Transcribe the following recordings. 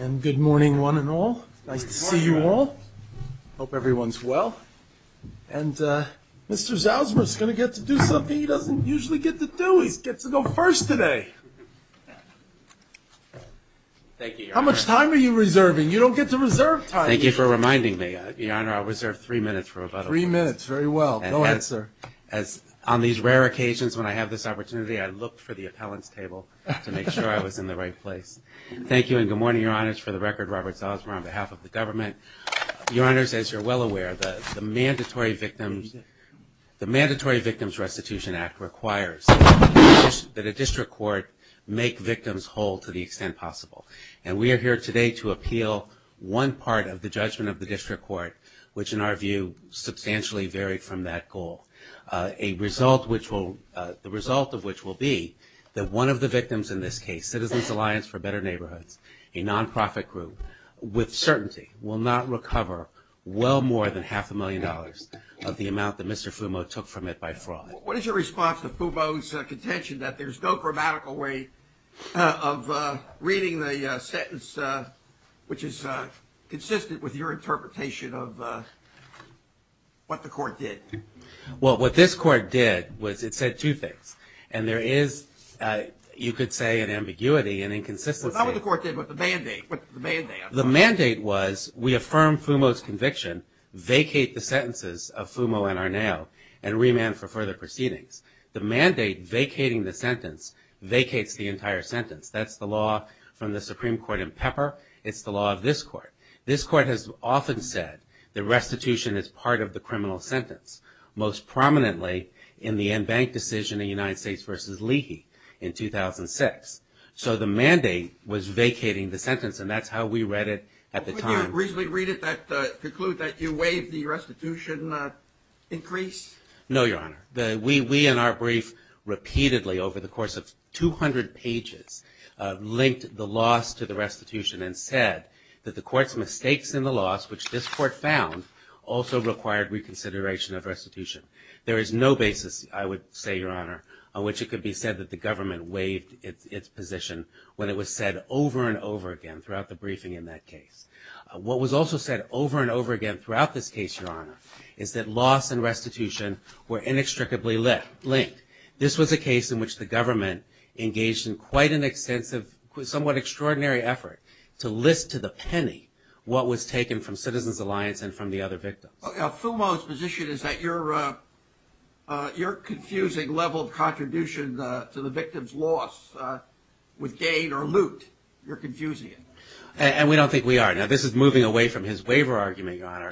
And good morning, one and all. Nice to see you all. Hope everyone's well. And Mr. Zausman is going to get to do something he doesn't usually get to do. He gets to go first today. Thank you, Your Honor. How much time are you reserving? You don't get to reserve time. Thank you for reminding me, Your Honor. I'll reserve three minutes for rebuttal. Three minutes. Very well. Go ahead, sir. On these rare occasions when I have this opportunity, I look for the appellant's table to make sure I was in the right place. Thank you and good morning, Your Honors. For the record, Robert Zausman on behalf of the government. Your Honors, as you're well aware, the Mandatory Victims Restitution Act requires that a district court make victims whole to the extent possible. And we are here today to appeal one part of the judgment of the district court, which in our view substantially varied from that goal. The result of which will be that one of the victims in this case, Citizens Alliance for Better Neighborhoods, a nonprofit group, with certainty will not recover well more than half a million dollars of the amount that Mr. Fumo took from it by fraud. What is your response to Fumo's contention that there's no grammatical way of reading the sentence which is consistent with your interpretation of what the court did? Well, what this court did was it said two things. And there is, you could say, an ambiguity and inconsistency. Well, not what the court did, but the mandate. The mandate was we affirm Fumo's conviction, vacate the sentences of Fumo and Arnao, and remand for further proceedings. The mandate vacating the sentence vacates the entire sentence. That's the law from the Supreme Court in Pepper. It's the law of this court. This court has often said the restitution is part of the criminal sentence. Most prominently in the en banc decision in United States v. Leahy in 2006. So the mandate was vacating the sentence, and that's how we read it at the time. Could you reasonably conclude that you waived the restitution increase? No, Your Honor. We in our brief repeatedly over the course of 200 pages linked the loss to the restitution and said that the court's mistakes in the loss, which this court found, also required reconsideration of restitution. There is no basis, I would say, Your Honor, on which it could be said that the government waived its position when it was said over and over again throughout the briefing in that case. What was also said over and over again throughout this case, Your Honor, is that loss and restitution were inextricably linked. This was a case in which the government engaged in quite an extensive, somewhat extraordinary effort to list to the penny what was taken from Citizens Alliance and from the other victims. Fumo's position is that you're confusing level of contribution to the victim's loss with gain or loot. You're confusing it. And we don't think we are. Now, this is moving away from his waiver argument, Your Honor.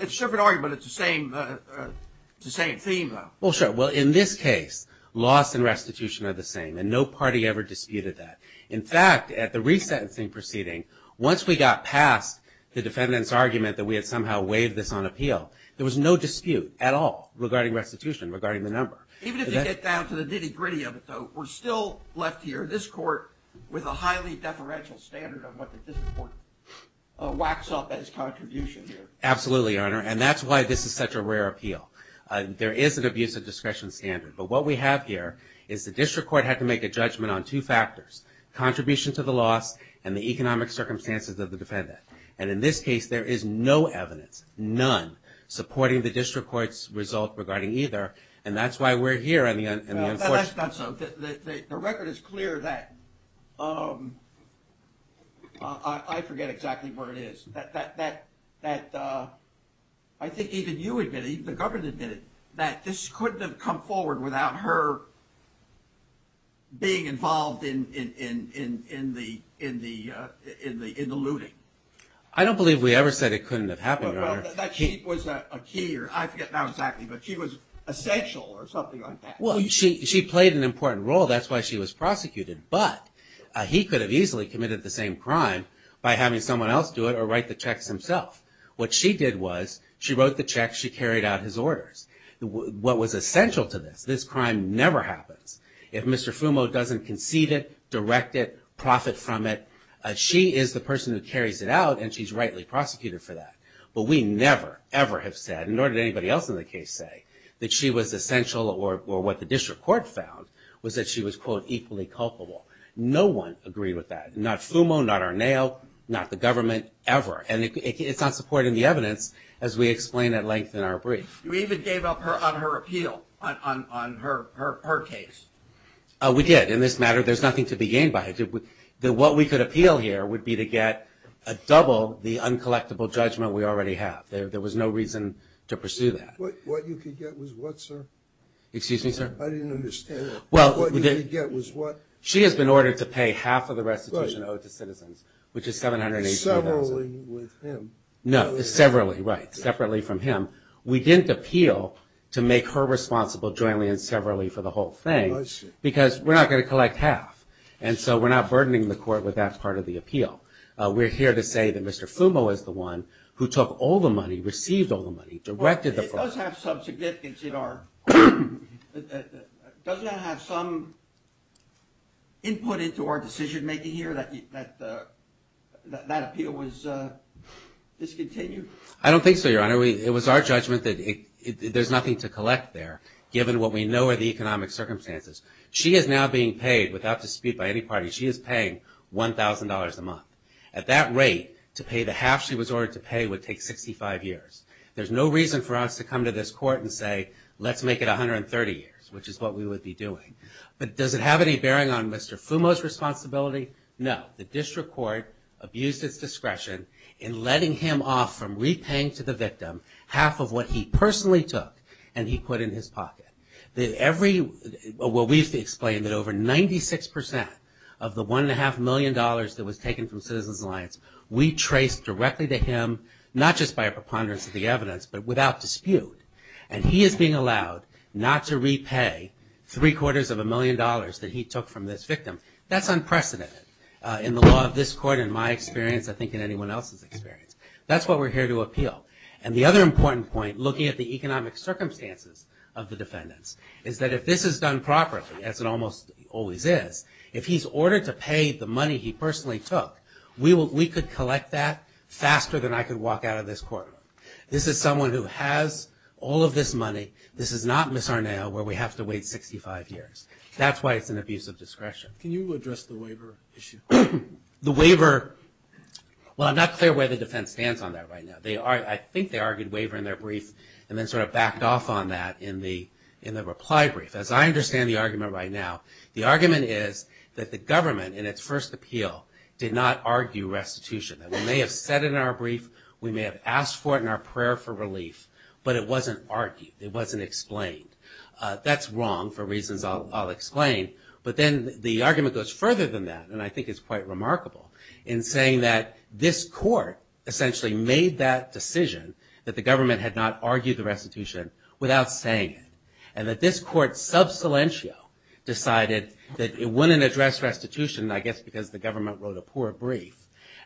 It's a separate argument. It's the same theme, though. Well, sure. Well, in this case, loss and restitution are the same, and no party ever disputed that. In fact, at the resentencing proceeding, once we got past the defendant's argument that we had somehow waived this on appeal, there was no dispute at all regarding restitution, regarding the number. Even if you get down to the nitty-gritty of it, though, we're still left here, this court with a highly deferential standard of what this court whacks up as contribution here. Absolutely, Your Honor. And that's why this is such a rare appeal. There is an abuse of discretion standard. But what we have here is the district court had to make a judgment on two factors, contribution to the loss and the economic circumstances of the defendant. And in this case, there is no evidence, none, supporting the district court's result regarding either. And that's why we're here in the unfortunate. Well, that's not so. The record is clear that ‑‑ I forget exactly where it is. That I think even you admitted, even the government admitted, that this couldn't have come forward without her being involved in the looting. I don't believe we ever said it couldn't have happened, Your Honor. That she was a key, or I forget now exactly, but she was essential or something like that. Well, she played an important role. That's why she was prosecuted. But he could have easily committed the same crime by having someone else do it or write the checks himself. What she did was she wrote the checks, she carried out his orders. What was essential to this, this crime never happens. If Mr. Fumo doesn't concede it, direct it, profit from it, she is the person who carries it out and she's rightly prosecuted for that. But we never, ever have said, nor did anybody else in the case say, that she was essential or what the district court found was that she was, quote, equally culpable. No one agreed with that. Not Fumo, not Arnao, not the government, ever. And it's not supporting the evidence, as we explain at length in our brief. You even gave up on her appeal, on her case. We did. In this matter, there's nothing to be gained by it. What we could appeal here would be to get a double the uncollectible judgment we already have. There was no reason to pursue that. What you could get was what, sir? Excuse me, sir? I didn't understand that. What you could get was what? No, severally, right. Separately from him. We didn't appeal to make her responsible jointly and severally for the whole thing. Because we're not going to collect half. And so we're not burdening the court with that part of the appeal. We're here to say that Mr. Fumo is the one who took all the money, received all the money, directed the fraud. Does that have some input into our decision-making here, that that appeal was discontinued? I don't think so, Your Honor. It was our judgment that there's nothing to collect there, given what we know are the economic circumstances. She is now being paid, without dispute by any party, she is paying $1,000 a month. At that rate, to pay the half she was ordered to pay would take 65 years. There's no reason for us to come to this court and say, let's make it 130 years, which is what we would be doing. But does it have any bearing on Mr. Fumo's responsibility? No. The district court abused its discretion in letting him off from repaying to the victim half of what he personally took and he put in his pocket. We've explained that over 96% of the $1.5 million that was taken from Citizens Alliance, we traced directly to him, not just by a preponderance of the evidence, but without dispute. And he is being allowed not to repay three quarters of a million dollars that he took from this victim. That's unprecedented in the law of this court, in my experience, I think in anyone else's experience. That's what we're here to appeal. And the other important point, looking at the economic circumstances of the defendants, is that if this is done properly, as it almost always is, if he's ordered to pay the money he personally took, we could collect that faster than I could walk out of this court. This is someone who has all of this money. This is not Ms. Arnao where we have to wait 65 years. That's why it's an abuse of discretion. Can you address the waiver issue? The waiver, well, I'm not clear where the defense stands on that right now. I think they argued waiver in their brief and then sort of backed off on that in the reply brief. As I understand the argument right now, the argument is that the government, in its first appeal, did not argue restitution. We may have said it in our brief, we may have asked for it in our prayer for relief, but it wasn't argued. It wasn't explained. That's wrong for reasons I'll explain. But then the argument goes further than that, and I think it's quite remarkable, in saying that this court essentially made that decision, that the government had not argued the restitution without saying it, and that this court sub silentio decided that it wouldn't address restitution, I guess because the government wrote a poor brief,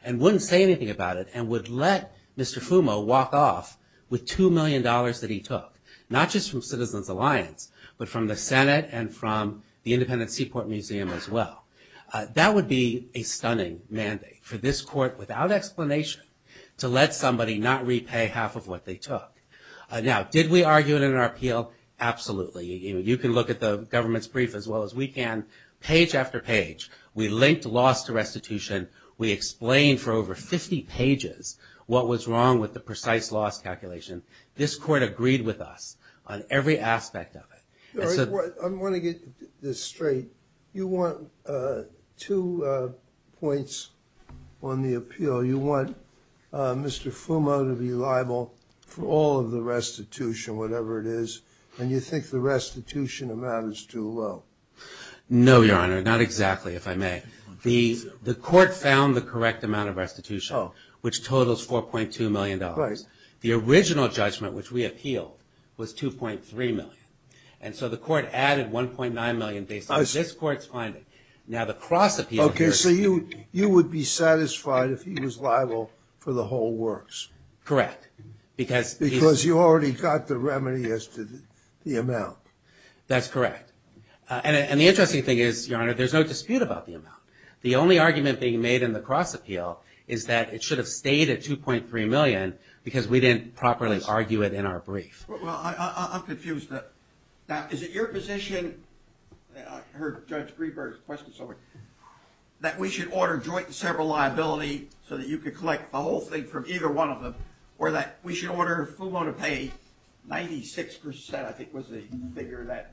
and wouldn't say anything about it, and would let Mr. Fumo walk off with $2 million that he took, not just from Citizens Alliance, but from the Senate and from the Independent Seaport Museum as well. That would be a stunning mandate for this court, without explanation, to let somebody not repay half of what they took. Now, did we argue it in our appeal? Absolutely. You can look at the government's brief as well as we can, page after page. We linked loss to restitution. We explained for over 50 pages what was wrong with the precise loss calculation. This court agreed with us on every aspect of it. I want to get this straight. You want two points on the appeal. You want Mr. Fumo to be liable for all of the restitution, whatever it is, and you think the restitution amount is too low. No, Your Honor, not exactly, if I may. The court found the correct amount of restitution, which totals $4.2 million. Right. The original judgment, which we appealed, was $2.3 million, and so the court added $1.9 million based on this court's finding. Now, the cross appeal here is Okay, so you would be satisfied if he was liable for the whole works? Correct, because Because you already got the remedy as to the amount. That's correct. And the interesting thing is, Your Honor, there's no dispute about the amount. The only argument being made in the cross appeal is that it should have stayed at $2.3 million because we didn't properly argue it in our brief. Well, I'm confused. Now, is it your position, I heard Judge Greenberg's question, that we should order joint and several liability so that you could collect the whole thing from either one of them, or that we should order Fumo to pay 96%, I think was the figure, that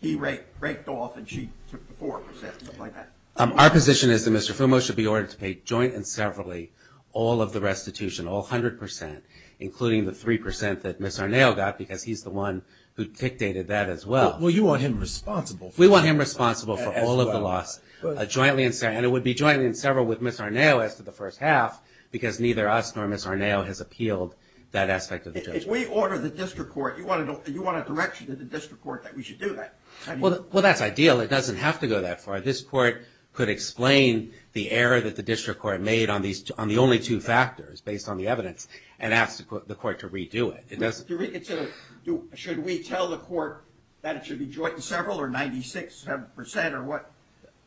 he raked off and she took the 4%, something like that? Our position is that Mr. Fumo should be ordered to pay joint and several, all of the restitution, all 100%, including the 3% that Ms. Arnao got, because he's the one who dictated that as well. Well, you want him responsible for all of the loss. We want him responsible for all of the loss, jointly and several, and it would be jointly and several with Ms. Arnao as to the first half, because neither us nor Ms. Arnao has appealed that aspect of the judgment. If we order the district court, you want a direction to the district court that we should do that? Well, that's ideal. It doesn't have to go that far. This court could explain the error that the district court made on the only two factors, based on the evidence, and ask the court to redo it. Should we tell the court that it should be joint and several or 96% or what?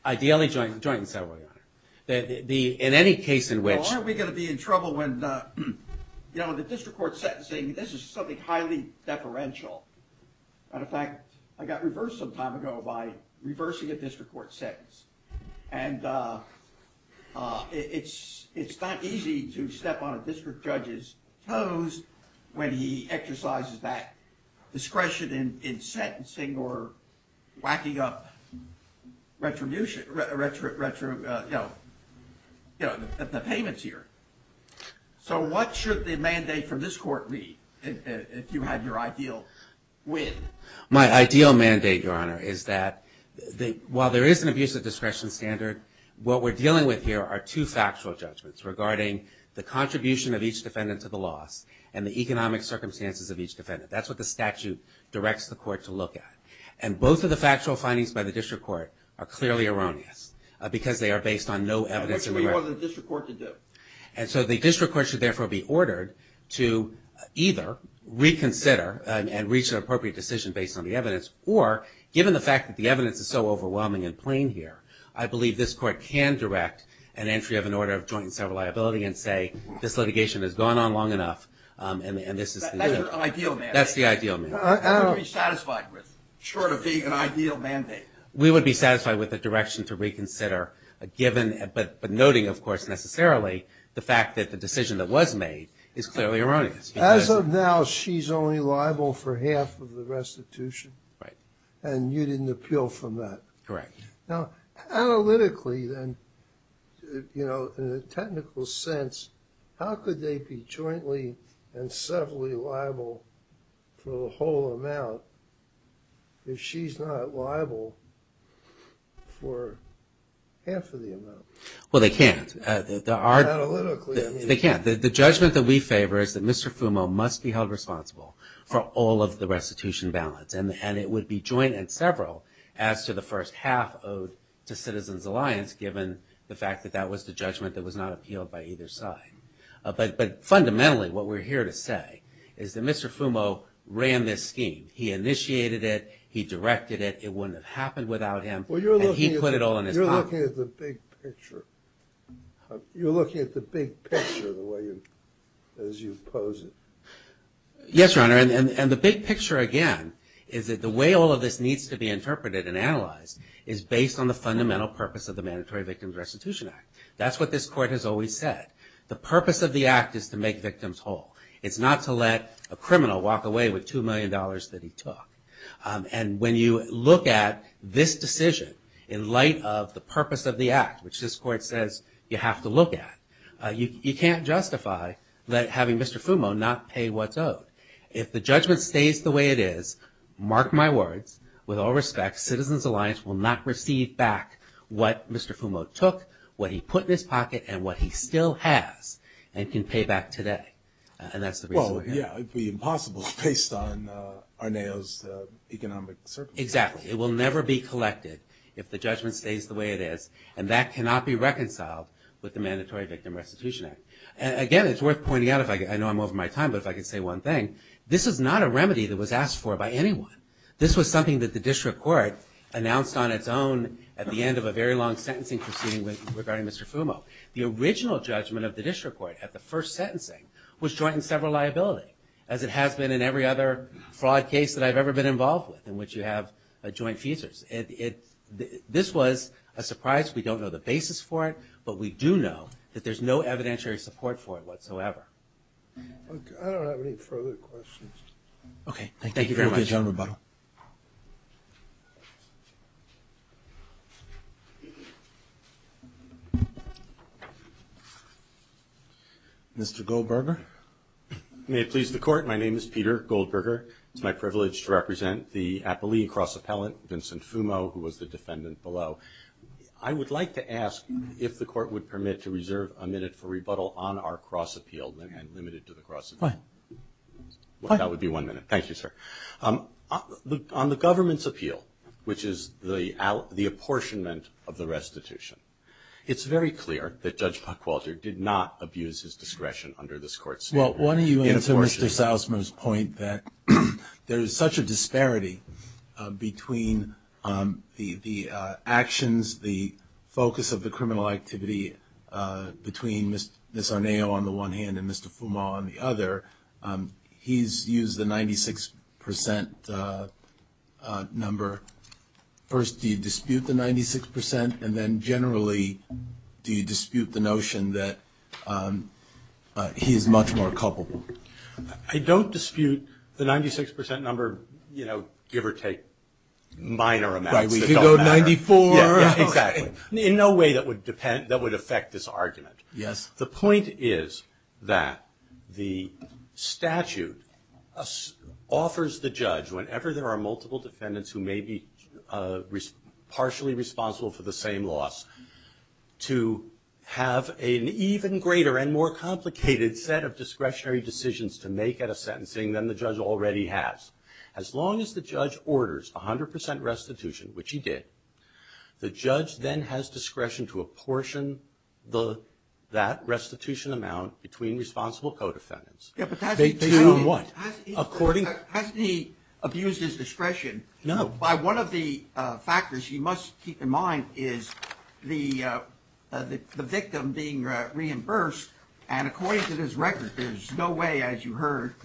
Ideally, joint and several, Your Honor. In any case in which... You know, the district court sentencing, this is something highly deferential. Matter of fact, I got reversed some time ago by reversing a district court sentence, and it's not easy to step on a district judge's toes when he exercises that discretion in sentencing or whacking up the payments here. So what should the mandate from this court be if you had your ideal win? My ideal mandate, Your Honor, is that while there is an abusive discretion standard, what we're dealing with here are two factual judgments regarding the contribution of each defendant to the loss and the economic circumstances of each defendant. That's what the statute directs the court to look at. And both of the factual findings by the district court are clearly erroneous because they are based on no evidence... And what should we want the district court to do? And so the district court should therefore be ordered to either reconsider and reach an appropriate decision based on the evidence, or given the fact that the evidence is so overwhelming and plain here, I believe this court can direct an entry of an order of joint and several liability and say this litigation has gone on long enough and this is... Short of being an ideal mandate. That's the ideal mandate. Short of being an ideal mandate. We would be satisfied with a direction to reconsider, but noting, of course, necessarily the fact that the decision that was made is clearly erroneous. As of now, she's only liable for half of the restitution? Right. And you didn't appeal from that? Correct. Now, analytically then, you know, in a technical sense, how could they be jointly and severally liable for the whole amount if she's not liable for half of the amount? Well, they can't. Analytically, I mean... They can't. The judgment that we favor is that Mr. Fumo must be held responsible for all of the restitution balance, and it would be joint and several as to the first half owed to Citizens Alliance given the fact that that was the judgment that was not appealed by either side. But fundamentally, what we're here to say is that Mr. Fumo ran this scheme. He initiated it, he directed it, it wouldn't have happened without him, and he put it all in his pocket. You're looking at the big picture. You're looking at the big picture as you pose it. Yes, Your Honor, and the big picture, again, is that the way all of this needs to be interpreted and analyzed is based on the fundamental purpose of the Mandatory Victims Restitution Act. That's what this Court has always said. The purpose of the Act is to make victims whole. It's not to let a criminal walk away with $2 million that he took. And when you look at this decision in light of the purpose of the Act, which this Court says you have to look at, you can't justify having Mr. Fumo not pay what's owed. If the judgment stays the way it is, mark my words, with all respect, Citizens Alliance will not receive back what Mr. Fumo took, what he put in his pocket, and what he still has, and can pay back today. And that's the reason we're here. Well, yeah, it would be impossible based on Arneo's economic circumstances. Exactly. It will never be collected if the judgment stays the way it is, and that cannot be reconciled with the Mandatory Victims Restitution Act. Again, it's worth pointing out, I know I'm over my time, but if I could say one thing, this is not a remedy that was asked for by anyone. This was something that the District Court announced on its own at the end of a very long sentencing proceeding regarding Mr. Fumo. The original judgment of the District Court at the first sentencing was joint and several liability, as it has been in every other fraud case that I've ever been involved with in which you have joint feasors. This was a surprise. We don't know the basis for it, but we do know that there's no evidentiary support for it whatsoever. I don't have any further questions. Okay. Thank you very much. Mr. Goldberger? May it please the Court, my name is Peter Goldberger. It's my privilege to represent the Appellee Cross Appellant, Vincent Fumo, who was the defendant below. I would like to ask if the Court would permit to reserve a minute for rebuttal on our cross appeal, and limited to the cross appeal. Go ahead. Well, that would be one minute. Thank you, sir. On the government's appeal, which is the apportionment of the restitution, it's very clear that Judge Puckwalter did not abuse his discretion under this Court's view. Well, why don't you answer Mr. Salzman's point that there is such a disparity between the actions, the focus of the criminal activity between Ms. Arnao on the one hand and Mr. Fumo on the other. He's used the 96% number. First, do you dispute the 96%? And then generally, do you dispute the notion that he is much more culpable? I don't dispute the 96% number, you know, give or take minor amounts. Right, we could go 94. Exactly. In no way that would affect this argument. Yes. The point is that the statute offers the judge, whenever there are multiple defendants who may be partially responsible for the same loss, to have an even greater and more complicated set of discretionary decisions to make at a sentencing than the judge already has. As long as the judge orders 100% restitution, which he did, the judge then has discretion to apportion that restitution amount between responsible co-defendants. Based on what? Hasn't he abused his discretion? No. By one of the factors you must keep in mind is the victim being reimbursed. And according to this record, there's no way, as you heard,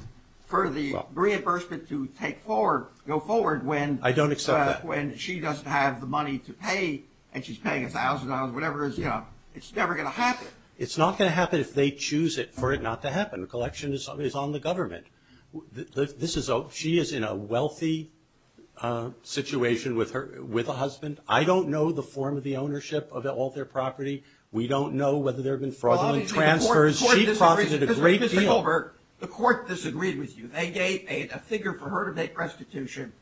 for the reimbursement to go forward when she doesn't have the money to pay and she's paying $1,000, whatever it is. It's never going to happen. It's not going to happen if they choose for it not to happen. The collection is on the government. She is in a wealthy situation with a husband. I don't know the form of the ownership of all their property. We don't know whether there have been fraudulent transfers. She profited a great deal. Mr. Gilbert, the court disagreed with you. They gave a figure for her to make restitution,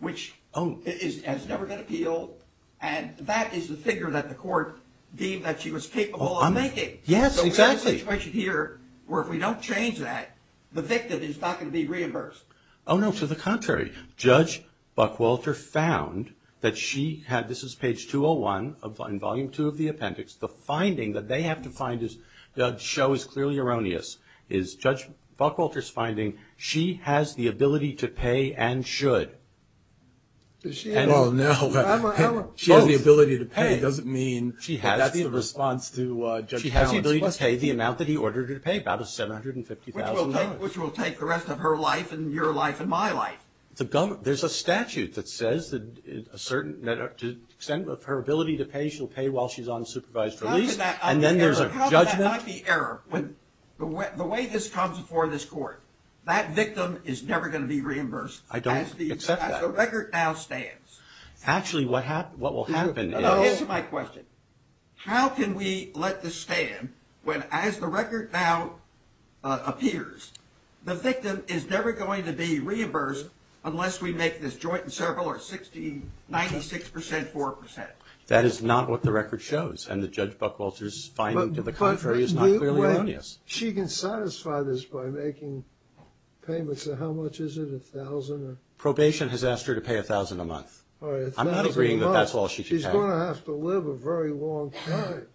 which has never been appealed, and that is the figure that the court deemed that she was capable of making. Yes, exactly. So we have a situation here where if we don't change that, the victim is not going to be reimbursed. Oh, no. To the contrary. Judge Buckwalter found that she had this. This is page 201 in Volume 2 of the appendix. The finding that they have to find, the show is clearly erroneous, is Judge Buckwalter's finding she has the ability to pay and should. Well, no. She has the ability to pay doesn't mean that's the response to Judge Talents. She has the ability to pay the amount that he ordered her to pay, about $750,000. Which will take the rest of her life and your life and my life. There's a statute that says that to the extent of her ability to pay, she'll pay while she's on supervised release, and then there's a judgment. That's not the error. The way this comes before this court, that victim is never going to be reimbursed. I don't accept that. As the record now stands. Actually, what will happen is. Answer my question. How can we let this stand when, as the record now appears, the victim is never going to be reimbursed unless we make this joint and several or 96%, 4%? That is not what the record shows, and the Judge Buckwalter's finding to the contrary is not clearly erroneous. She can satisfy this by making payments. How much is it? $1,000? Probation has asked her to pay $1,000 a month. I'm not agreeing that that's all she can pay. She's going to have to live a very long time.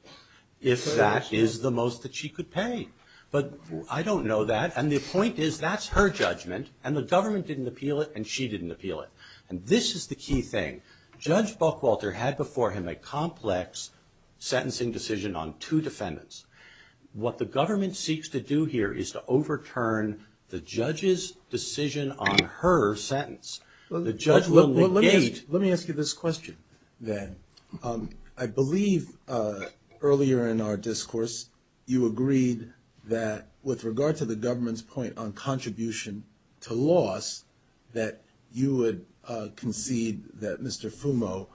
If that is the most that she could pay. But I don't know that. And the point is that's her judgment, and the government didn't appeal it and she didn't appeal it. And this is the key thing. Judge Buckwalter had before him a complex sentencing decision on two defendants. What the government seeks to do here is to overturn the judge's decision on her sentence. The judge will negate. Let me ask you this question then. I believe earlier in our discourse you agreed that with regard to the government's point on contribution to loss, that you would concede that Mr. Fumo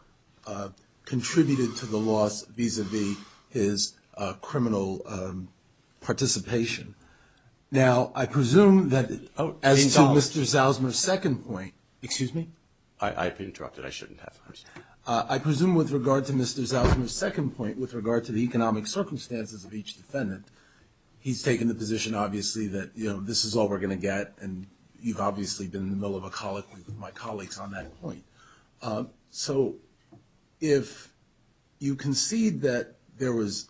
contributed to the loss vis-a-vis his criminal participation. Now, I presume that as to Mr. Zalzman's second point. Excuse me? I've been interrupted. I shouldn't have. I presume with regard to Mr. Zalzman's second point, with regard to the economic circumstances of each defendant, he's taken the position obviously that this is all we're going to get, and you've obviously been in the middle of a colloquy with my colleagues on that point. So if you concede that there was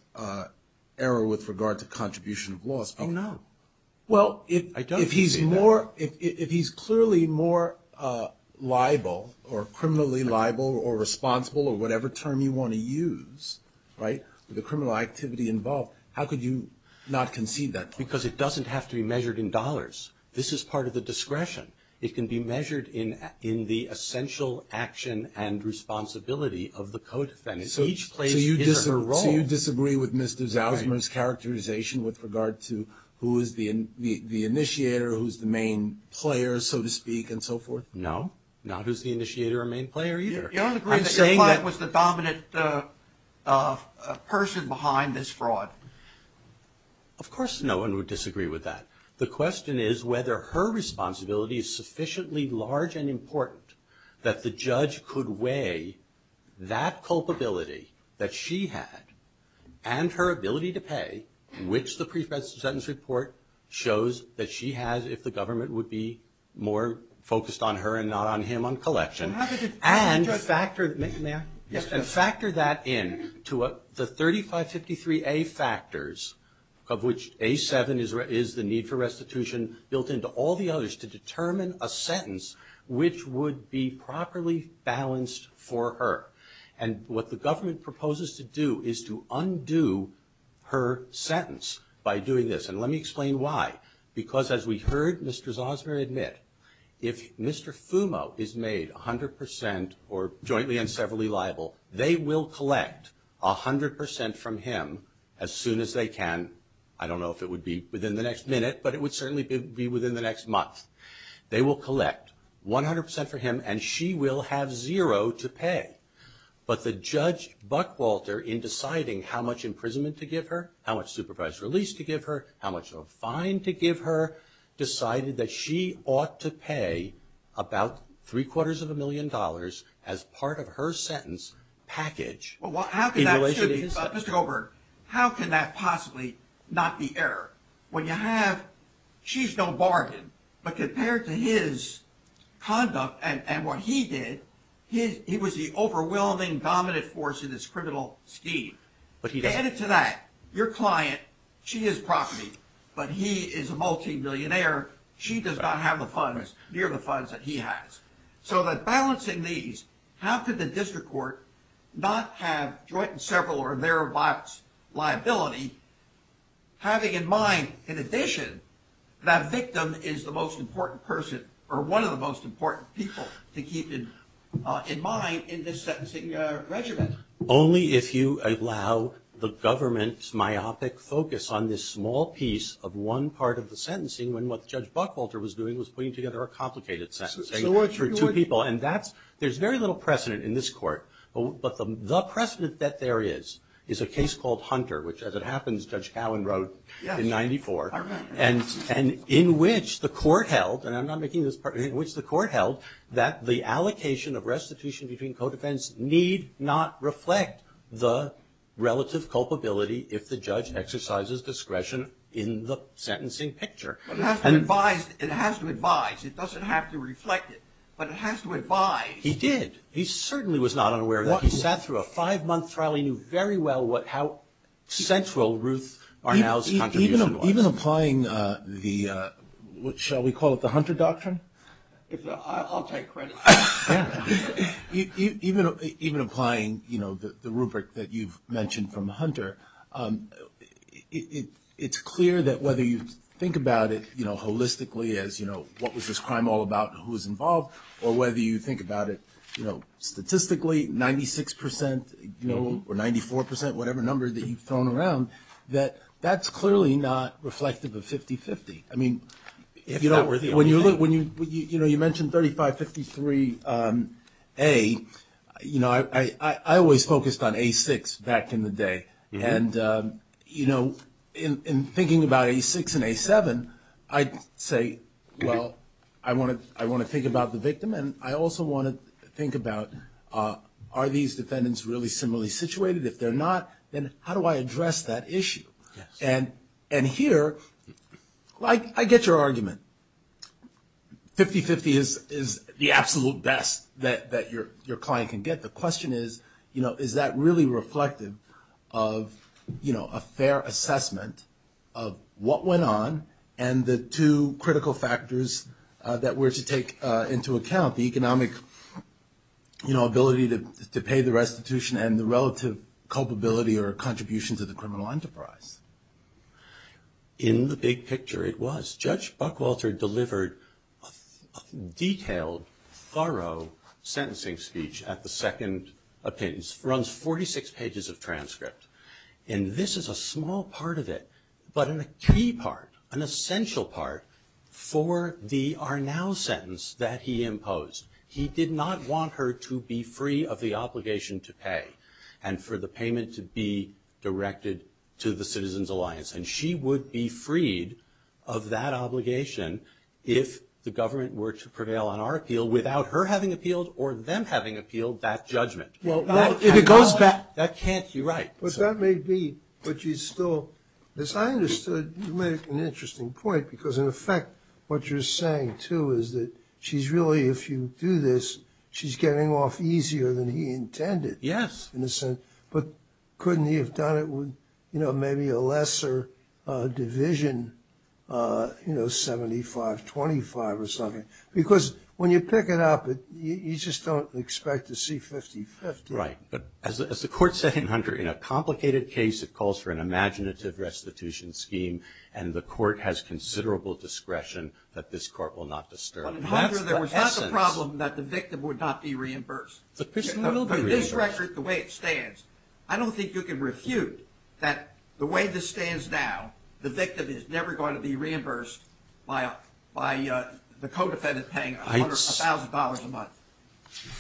error with regard to contribution of loss. Oh, no. I don't concede that. Well, if he's clearly more liable or criminally liable or responsible or whatever term you want to use, right, with the criminal activity involved, how could you not concede that point? Because it doesn't have to be measured in dollars. This is part of the discretion. It can be measured in the essential action and responsibility of the co-defendant. Each plays his or her role. So you disagree with Mr. Zalzman's characterization with regard to who is the initiator, who's the main player, so to speak, and so forth? No. Not who's the initiator or main player either. You're saying that. Your client was the dominant person behind this fraud. Of course no one would disagree with that. The question is whether her responsibility is sufficiently large and important that the judge could weigh that culpability that she had and her ability to pay, which the pre-sentence report shows that she has if the government would be more focused on her and not on him on collection, and factor that in to the 3553A factors of which A7 is the need for restitution built into all the others to determine a sentence which would be properly balanced for her. And what the government proposes to do is to undo her sentence by doing this. And let me explain why. Because as we heard Mr. Zalzman admit, if Mr. Fumo is made 100% or jointly and severally liable, they will collect 100% from him as soon as they can. I don't know if it would be within the next minute, but it would certainly be within the next month. They will collect 100% for him and she will have zero to pay. But the judge Buckwalter in deciding how much imprisonment to give her, how much supervised release to give her, how much of a fine to give her, decided that she ought to pay about three quarters of a million dollars as part of her sentence package in relation to his sentence. Mr. Goldberg, how can that possibly not be error? When you have, she's no bargain, but compared to his conduct and what he did, he was the overwhelming dominant force in this criminal scheme. Added to that, your client, she is property, but he is a multimillionaire. She does not have the funds, near the funds that he has. So that balancing these, how could the district court not have joint and several or their liability having in mind, in addition, that victim is the most important person or one of the most important people to keep in mind in this sentencing regimen? Only if you allow the government's myopic focus on this small piece of one part of the sentencing when what Judge Buckwalter was doing was putting together a complicated sentencing. And that's, there's very little precedent in this court. But the precedent that there is, is a case called Hunter, which as it happens, Judge Cowen wrote in 94. And in which the court held, and I'm not making this part, in which the court held that the allocation of restitution between co-defense need not reflect the relative culpability if the judge exercises discretion in the sentencing picture. But it has to advise, it has to advise. It doesn't have to reflect it. But it has to advise. He did. He certainly was not unaware of that. He sat through a five-month trial. He knew very well what, how central Ruth Barnow's contribution was. Even applying the, what shall we call it, the Hunter Doctrine? I'll take credit. Even applying, you know, the rubric that you've mentioned from Hunter, it's clear that whether you think about it, you know, holistically as, you know, what was this crime all about and who was involved? Or whether you think about it, you know, statistically, 96%, you know, or 94%, whatever number that you've thrown around, that that's clearly not reflective of 50-50. I mean, if that were the only thing. When you look, when you, you know, you mentioned 35-53A, you know, I always focused on A6 back in the day. And, you know, in thinking about A6 and A7, I'd say, well, I want to think about the victim and I also want to think about are these defendants really similarly situated? If they're not, then how do I address that issue? And here, I get your argument. 50-50 is the absolute best that your client can get. The question is, you know, is that really reflective of, you know, a fair assessment of what went on and the two critical factors that we're to take into account, the economic, you know, ability to pay the restitution and the relative culpability or contribution to the criminal enterprise. In the big picture, it was. A detailed, thorough sentencing speech at the second appearance runs 46 pages of transcript. And this is a small part of it, but a key part, an essential part for the are now sentence that he imposed. He did not want her to be free of the obligation to pay and for the payment to be directed to the Citizens Alliance. And she would be freed of that obligation if the government were to prevail on our appeal without her having appealed or them having appealed that judgment. If it goes back, that can't be right. But that may be, but you still, as I understood, you made an interesting point because, in effect, what you're saying too is that she's really, if you do this, she's getting off easier than he intended. Yes. In a sense, but couldn't he have done it with, you know, maybe a lesser division, you know, 75-25 or something? Because when you pick it up, you just don't expect to see 50-50. Right. But as the court said in Hunter, in a complicated case, it calls for an imaginative restitution scheme, and the court has considerable discretion that this court will not disturb. But, Hunter, there was not the problem that the victim would not be reimbursed. But this record, the way it stands, I don't think you can refute that the way this stands now, the victim is never going to be reimbursed by the co-defendant paying $1,000 a month.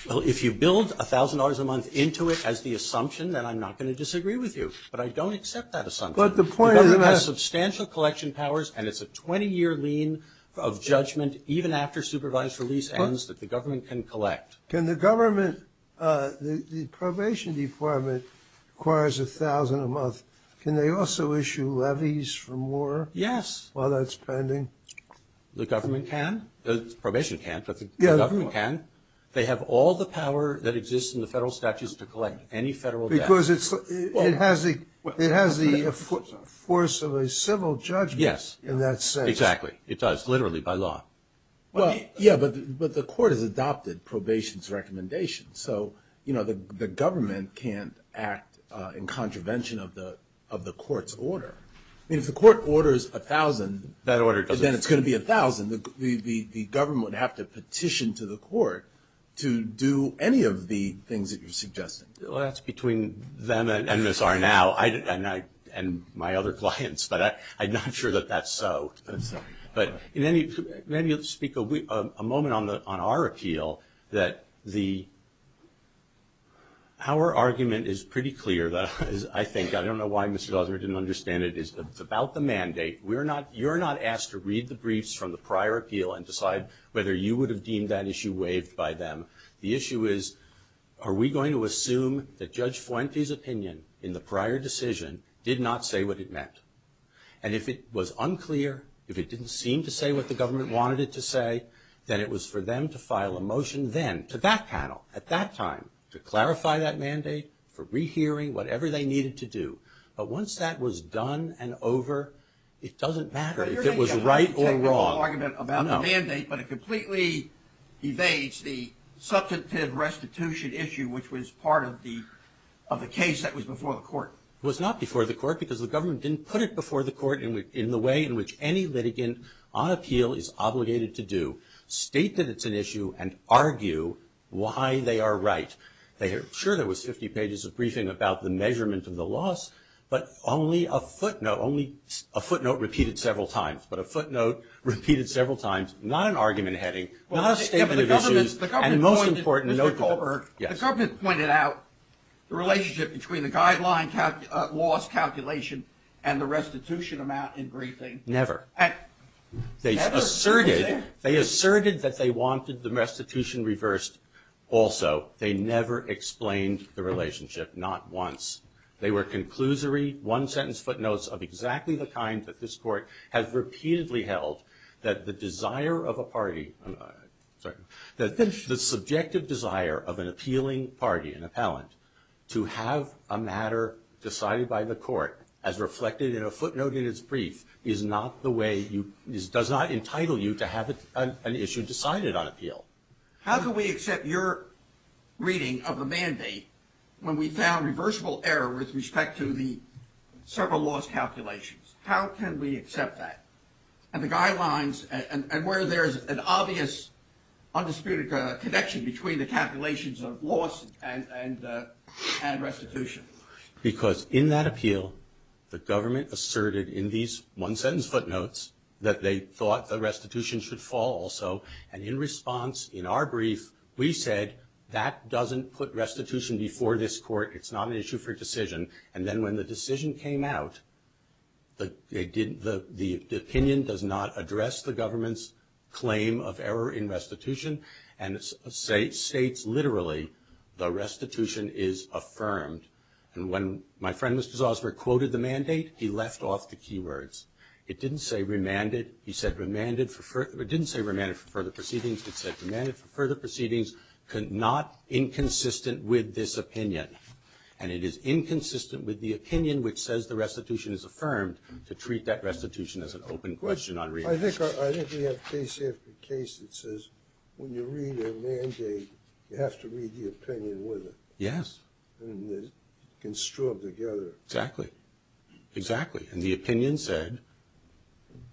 Well, if you build $1,000 a month into it as the assumption, then I'm not going to disagree with you. But I don't accept that assumption. The government has substantial collection powers, and it's a 20-year lien of judgment even after supervised release ends that the government can collect. Can the government – the probation department requires $1,000 a month. Can they also issue levies for more? Yes. While that's pending? The government can. The probation can, but the government can. They have all the power that exists in the federal statutes to collect any federal debt. Because it has the force of a civil judgment in that sense. Yes, exactly. It does, literally, by law. Well, yeah, but the court has adopted probation's recommendation. So, you know, the government can't act in contravention of the court's order. I mean, if the court orders $1,000, then it's going to be $1,000. The government would have to petition to the court to do any of the things that you're suggesting. Well, that's between them and Ms. Arnau and my other clients, but I'm not sure that that's so. But maybe you'll speak a moment on our appeal that our argument is pretty clear, I think. I don't know why Mr. Dosser didn't understand it. It's about the mandate. You're not asked to read the briefs from the prior appeal and decide whether you would have deemed that issue waived by them. The issue is, are we going to assume that Judge Fuente's opinion in the prior decision did not say what it meant? And if it was unclear, if it didn't seem to say what the government wanted it to say, then it was for them to file a motion then to that panel at that time to clarify that mandate, for re-hearing, whatever they needed to do. But once that was done and over, it doesn't matter if it was right or wrong. Well, you're making a hypothetical argument about the mandate, but it completely evades the substantive restitution issue, which was part of the case that was before the court. It was not before the court because the government didn't put it before the court in the way in which any litigant on appeal is obligated to do, state that it's an issue and argue why they are right. Sure, there was 50 pages of briefing about the measurement of the loss, but only a footnote, only a footnote repeated several times, but a footnote repeated several times, not an argument heading, not a statement of issues. The government pointed out the relationship between the guideline loss calculation and the restitution amount in briefing. Never. They asserted that they wanted the restitution reversed also. They never explained the relationship, not once. They were conclusory, one-sentence footnotes of exactly the kind that this court has repeatedly held that the desire of a party, sorry, the subjective desire of an appealing party, an appellant, to have a matter decided by the court as reflected in a footnote in its brief does not entitle you to have an issue decided on appeal. How can we accept your reading of the mandate when we found reversible error with respect to the several loss calculations? How can we accept that? And the guidelines, and where there's an obvious undisputed connection between the calculations of loss and restitution. Because in that appeal, the government asserted in these one-sentence footnotes that they thought the restitution should fall also, and in response, in our brief, we said that doesn't put restitution before this court, it's not an issue for decision, and then when the decision came out, the opinion does not address the government's claim of error in restitution, and it states literally, the restitution is affirmed. And when my friend, Mr. Zossberg, quoted the mandate, he left off the key words. It didn't say remanded for further proceedings, it said remanded for further proceedings, not inconsistent with this opinion. And it is inconsistent with the opinion which says the restitution is affirmed to treat that restitution as an open question on reimbursement. I think we have case after case that says when you read a mandate, you have to read the opinion with it. Yes. And it's construed together. Exactly. Exactly. And the opinion said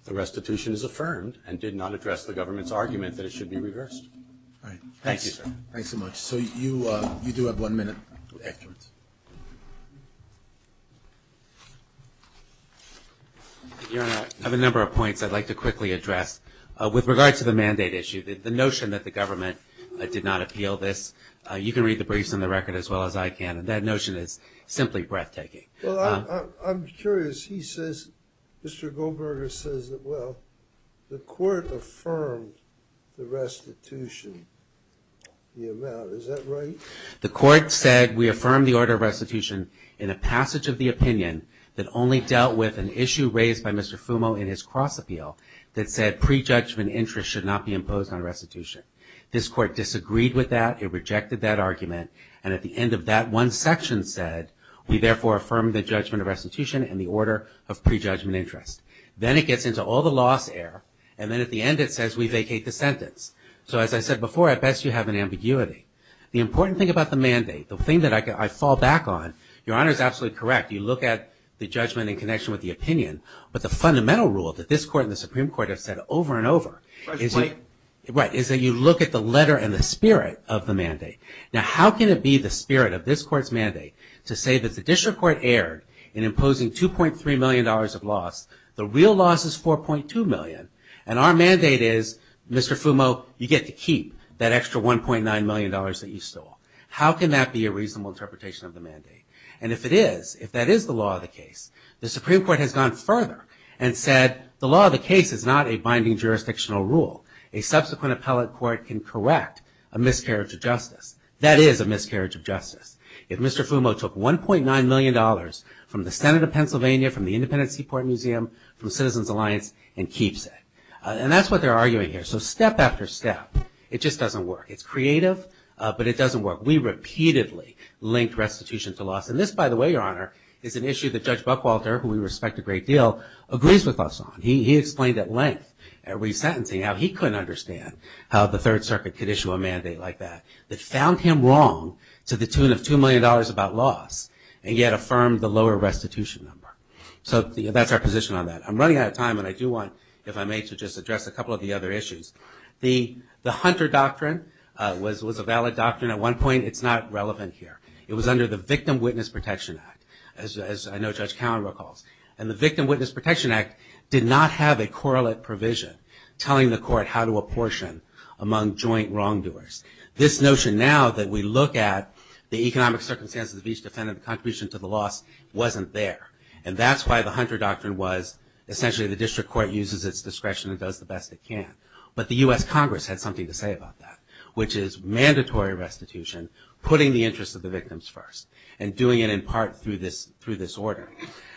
the restitution is affirmed and did not address the government's argument that it should be reversed. All right. Thank you, sir. Thanks so much. So you do have one minute afterwards. Your Honor, I have a number of points I'd like to quickly address. With regard to the mandate issue, the notion that the government did not appeal this, you can read the briefs on the record as well as I can, and that notion is simply breathtaking. Well, I'm curious. Mr. Goldberger says that, well, the court affirmed the restitution. Is that right? The court said we affirmed the order of restitution in a passage of the opinion that only dealt with an issue raised by Mr. Fumo in his cross-appeal that said prejudgment interest should not be imposed on restitution. This court disagreed with that. It rejected that argument. And at the end of that one section said, we therefore affirm the judgment of restitution in the order of prejudgment interest. Then it gets into all the loss air, and then at the end it says we vacate the sentence. So as I said before, at best you have an ambiguity. The important thing about the mandate, the thing that I fall back on, Your Honor is absolutely correct. You look at the judgment in connection with the opinion, but the fundamental rule that this court and the Supreme Court have said over and over is that you look at the letter and the spirit of the mandate. Now how can it be the spirit of this court's mandate to say that the district court erred in imposing $2.3 million of loss, the real loss is $4.2 million, and our mandate is Mr. Fumo, you get to keep that extra $1.9 million that you stole. How can that be a reasonable interpretation of the mandate? And if it is, if that is the law of the case, the Supreme Court has gone further and said the law of the case is not a binding jurisdictional rule. A subsequent appellate court can correct a miscarriage of justice. That is a miscarriage of justice. If Mr. Fumo took $1.9 million from the Senate of Pennsylvania, from the Independence Seaport Museum, from Citizens Alliance, and keeps it. And that's what they're arguing here. So step after step, it just doesn't work. It's creative, but it doesn't work. We repeatedly link restitution to loss. And this, by the way, Your Honor, is an issue that Judge Buckwalter, who we respect a great deal, agrees with us on. He explained at length at resentencing how he couldn't understand how the Third Circuit could issue a mandate like that. That found him wrong to the tune of $2 million about loss, and yet affirmed the lower restitution number. So that's our position on that. I'm running out of time, and I do want, if I may, to just address a couple of the other issues. The Hunter Doctrine was a valid doctrine at one point. It's not relevant here. It was under the Victim Witness Protection Act, as I know Judge Cowan recalls. And the Victim Witness Protection Act did not have a correlate provision telling the court how to apportion among joint wrongdoers. This notion now that we look at the economic circumstances of each defendant, the contribution to the loss, wasn't there. And that's why the Hunter Doctrine was essentially the district court uses its discretion and does the best it can. But the U.S. Congress had something to say about that, which is mandatory restitution, putting the interests of the victims first, and doing it in part through this order.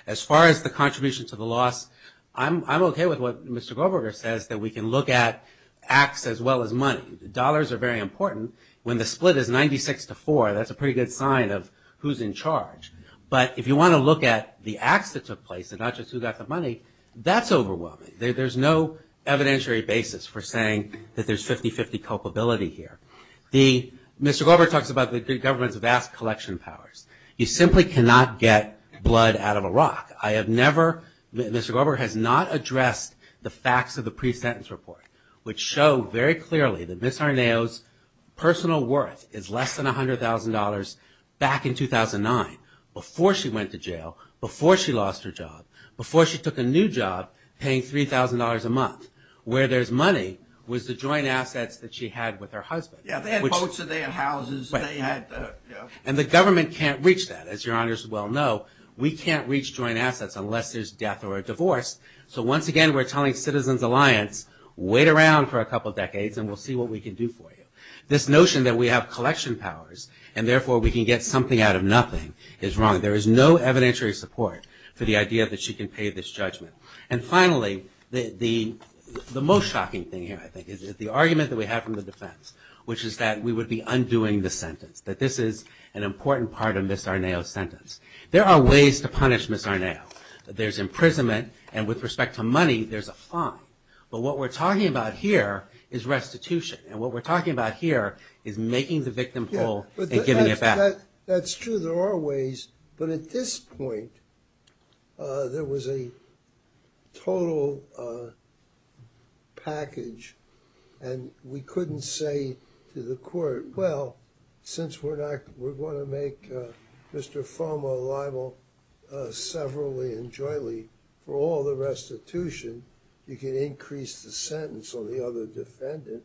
As far as the contribution to the loss, I'm okay with what Mr. Goldberger says, that we can look at acts as well as money. Dollars are very important. When the split is 96 to 4, that's a pretty good sign of who's in charge. But if you want to look at the acts that took place and not just who got the money, that's overwhelming. There's no evidentiary basis for saying that there's 50-50 culpability here. Mr. Goldberger talks about the government's vast collection powers. You simply cannot get blood out of a rock. I have never, Mr. Goldberger has not addressed the facts of the pre-sentence report, which show very clearly that Ms. Arnao's personal worth is less than $100,000 back in 2009, before she went to jail, before she lost her job, before she took a new job paying $3,000 a month. Where there's money was the joint assets that she had with her husband. Yeah, they had boats and they had houses. And the government can't reach that, as your honors well know. We can't reach joint assets unless there's death or a divorce. So once again, we're telling Citizens Alliance, wait around for a couple decades and we'll see what we can do for you. This notion that we have collection powers and therefore we can get something out of nothing is wrong. There is no evidentiary support for the idea that she can pay this judgment. And finally, the most shocking thing here, I think, is the argument that we have from the defense, which is that we would be undoing the sentence. That this is an important part of Ms. Arnao's sentence. There are ways to punish Ms. Arnao. There's imprisonment and with respect to money, there's a fine. But what we're talking about here is restitution. And what we're talking about here is making the victim whole and giving it back. That's true, there are ways. But at this point, there was a total package. And we couldn't say to the court, well, since we're going to make Mr. Foma liable severally and jointly for all the restitution, you can increase the sentence on the other defendant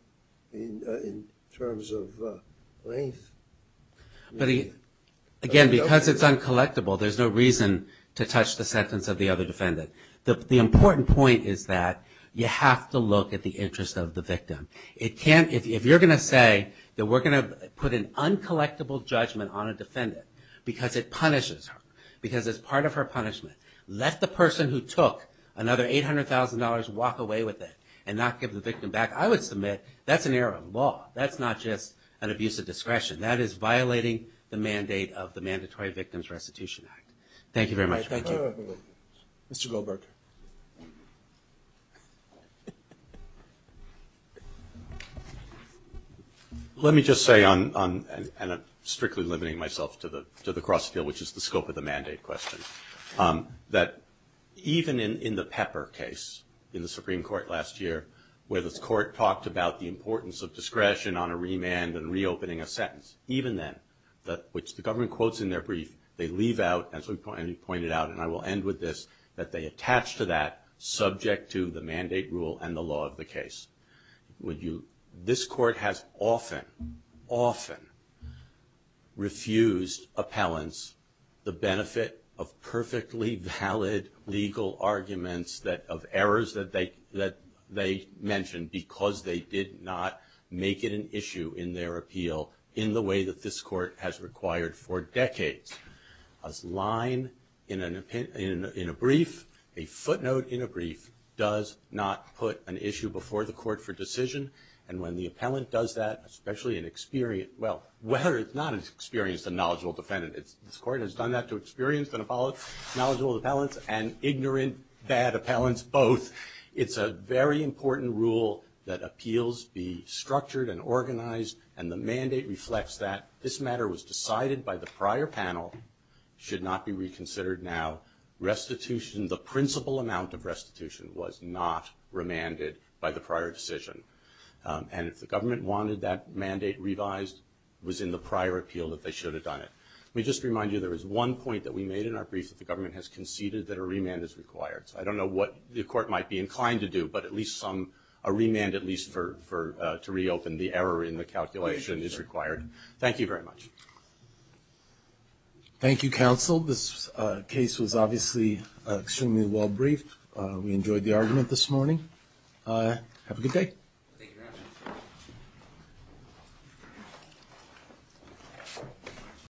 in terms of length. But again, because it's uncollectible, there's no reason to touch the sentence of the other defendant. The important point is that you have to look at the interest of the victim. If you're going to say that we're going to put an uncollectible judgment on a defendant because it punishes her, because it's part of her punishment, let the person who took another $800,000 walk away with it and not give the victim back, I would submit that's an error of law. That's not just an abuse of discretion. That is violating the mandate of the Mandatory Victims Restitution Act. Thank you very much. Thank you. Mr. Goldberg. Let me just say, and I'm strictly limiting myself to the cross-field, which is the scope of the mandate question, that even in the Pepper case in the Supreme Court last year, where the court talked about the importance of discretion on a remand and reopening a sentence, even then, which the government quotes in their brief, they leave out, as we pointed out, and I will end with this, that they attach to that subject to the mandate rule and the law of the case. This court has often, often refused appellants the benefit of perfectly valid legal arguments, of errors that they mentioned, because they did not make it an issue in their appeal, in the way that this court has required for decades. A line in a brief, a footnote in a brief, does not put an issue before the court for decision, and when the appellant does that, especially an experienced, well, whether it's not an experienced and knowledgeable defendant, this court has done that to experienced and knowledgeable appellants, and ignorant, bad appellants, both. It's a very important rule that appeals be structured and organized, and the mandate reflects that. This matter was decided by the prior panel, should not be reconsidered now. Restitution, the principal amount of restitution, was not remanded by the prior decision. And if the government wanted that mandate revised, it was in the prior appeal that they should have done it. Let me just remind you, there was one point that we made in our brief, that the government has conceded that a remand is required. So I don't know what the court might be inclined to do, but at least a remand, at least to reopen the error in the calculation is required. Thank you very much. Thank you, counsel. This case was obviously extremely well briefed. We enjoyed the argument this morning. Have a good day.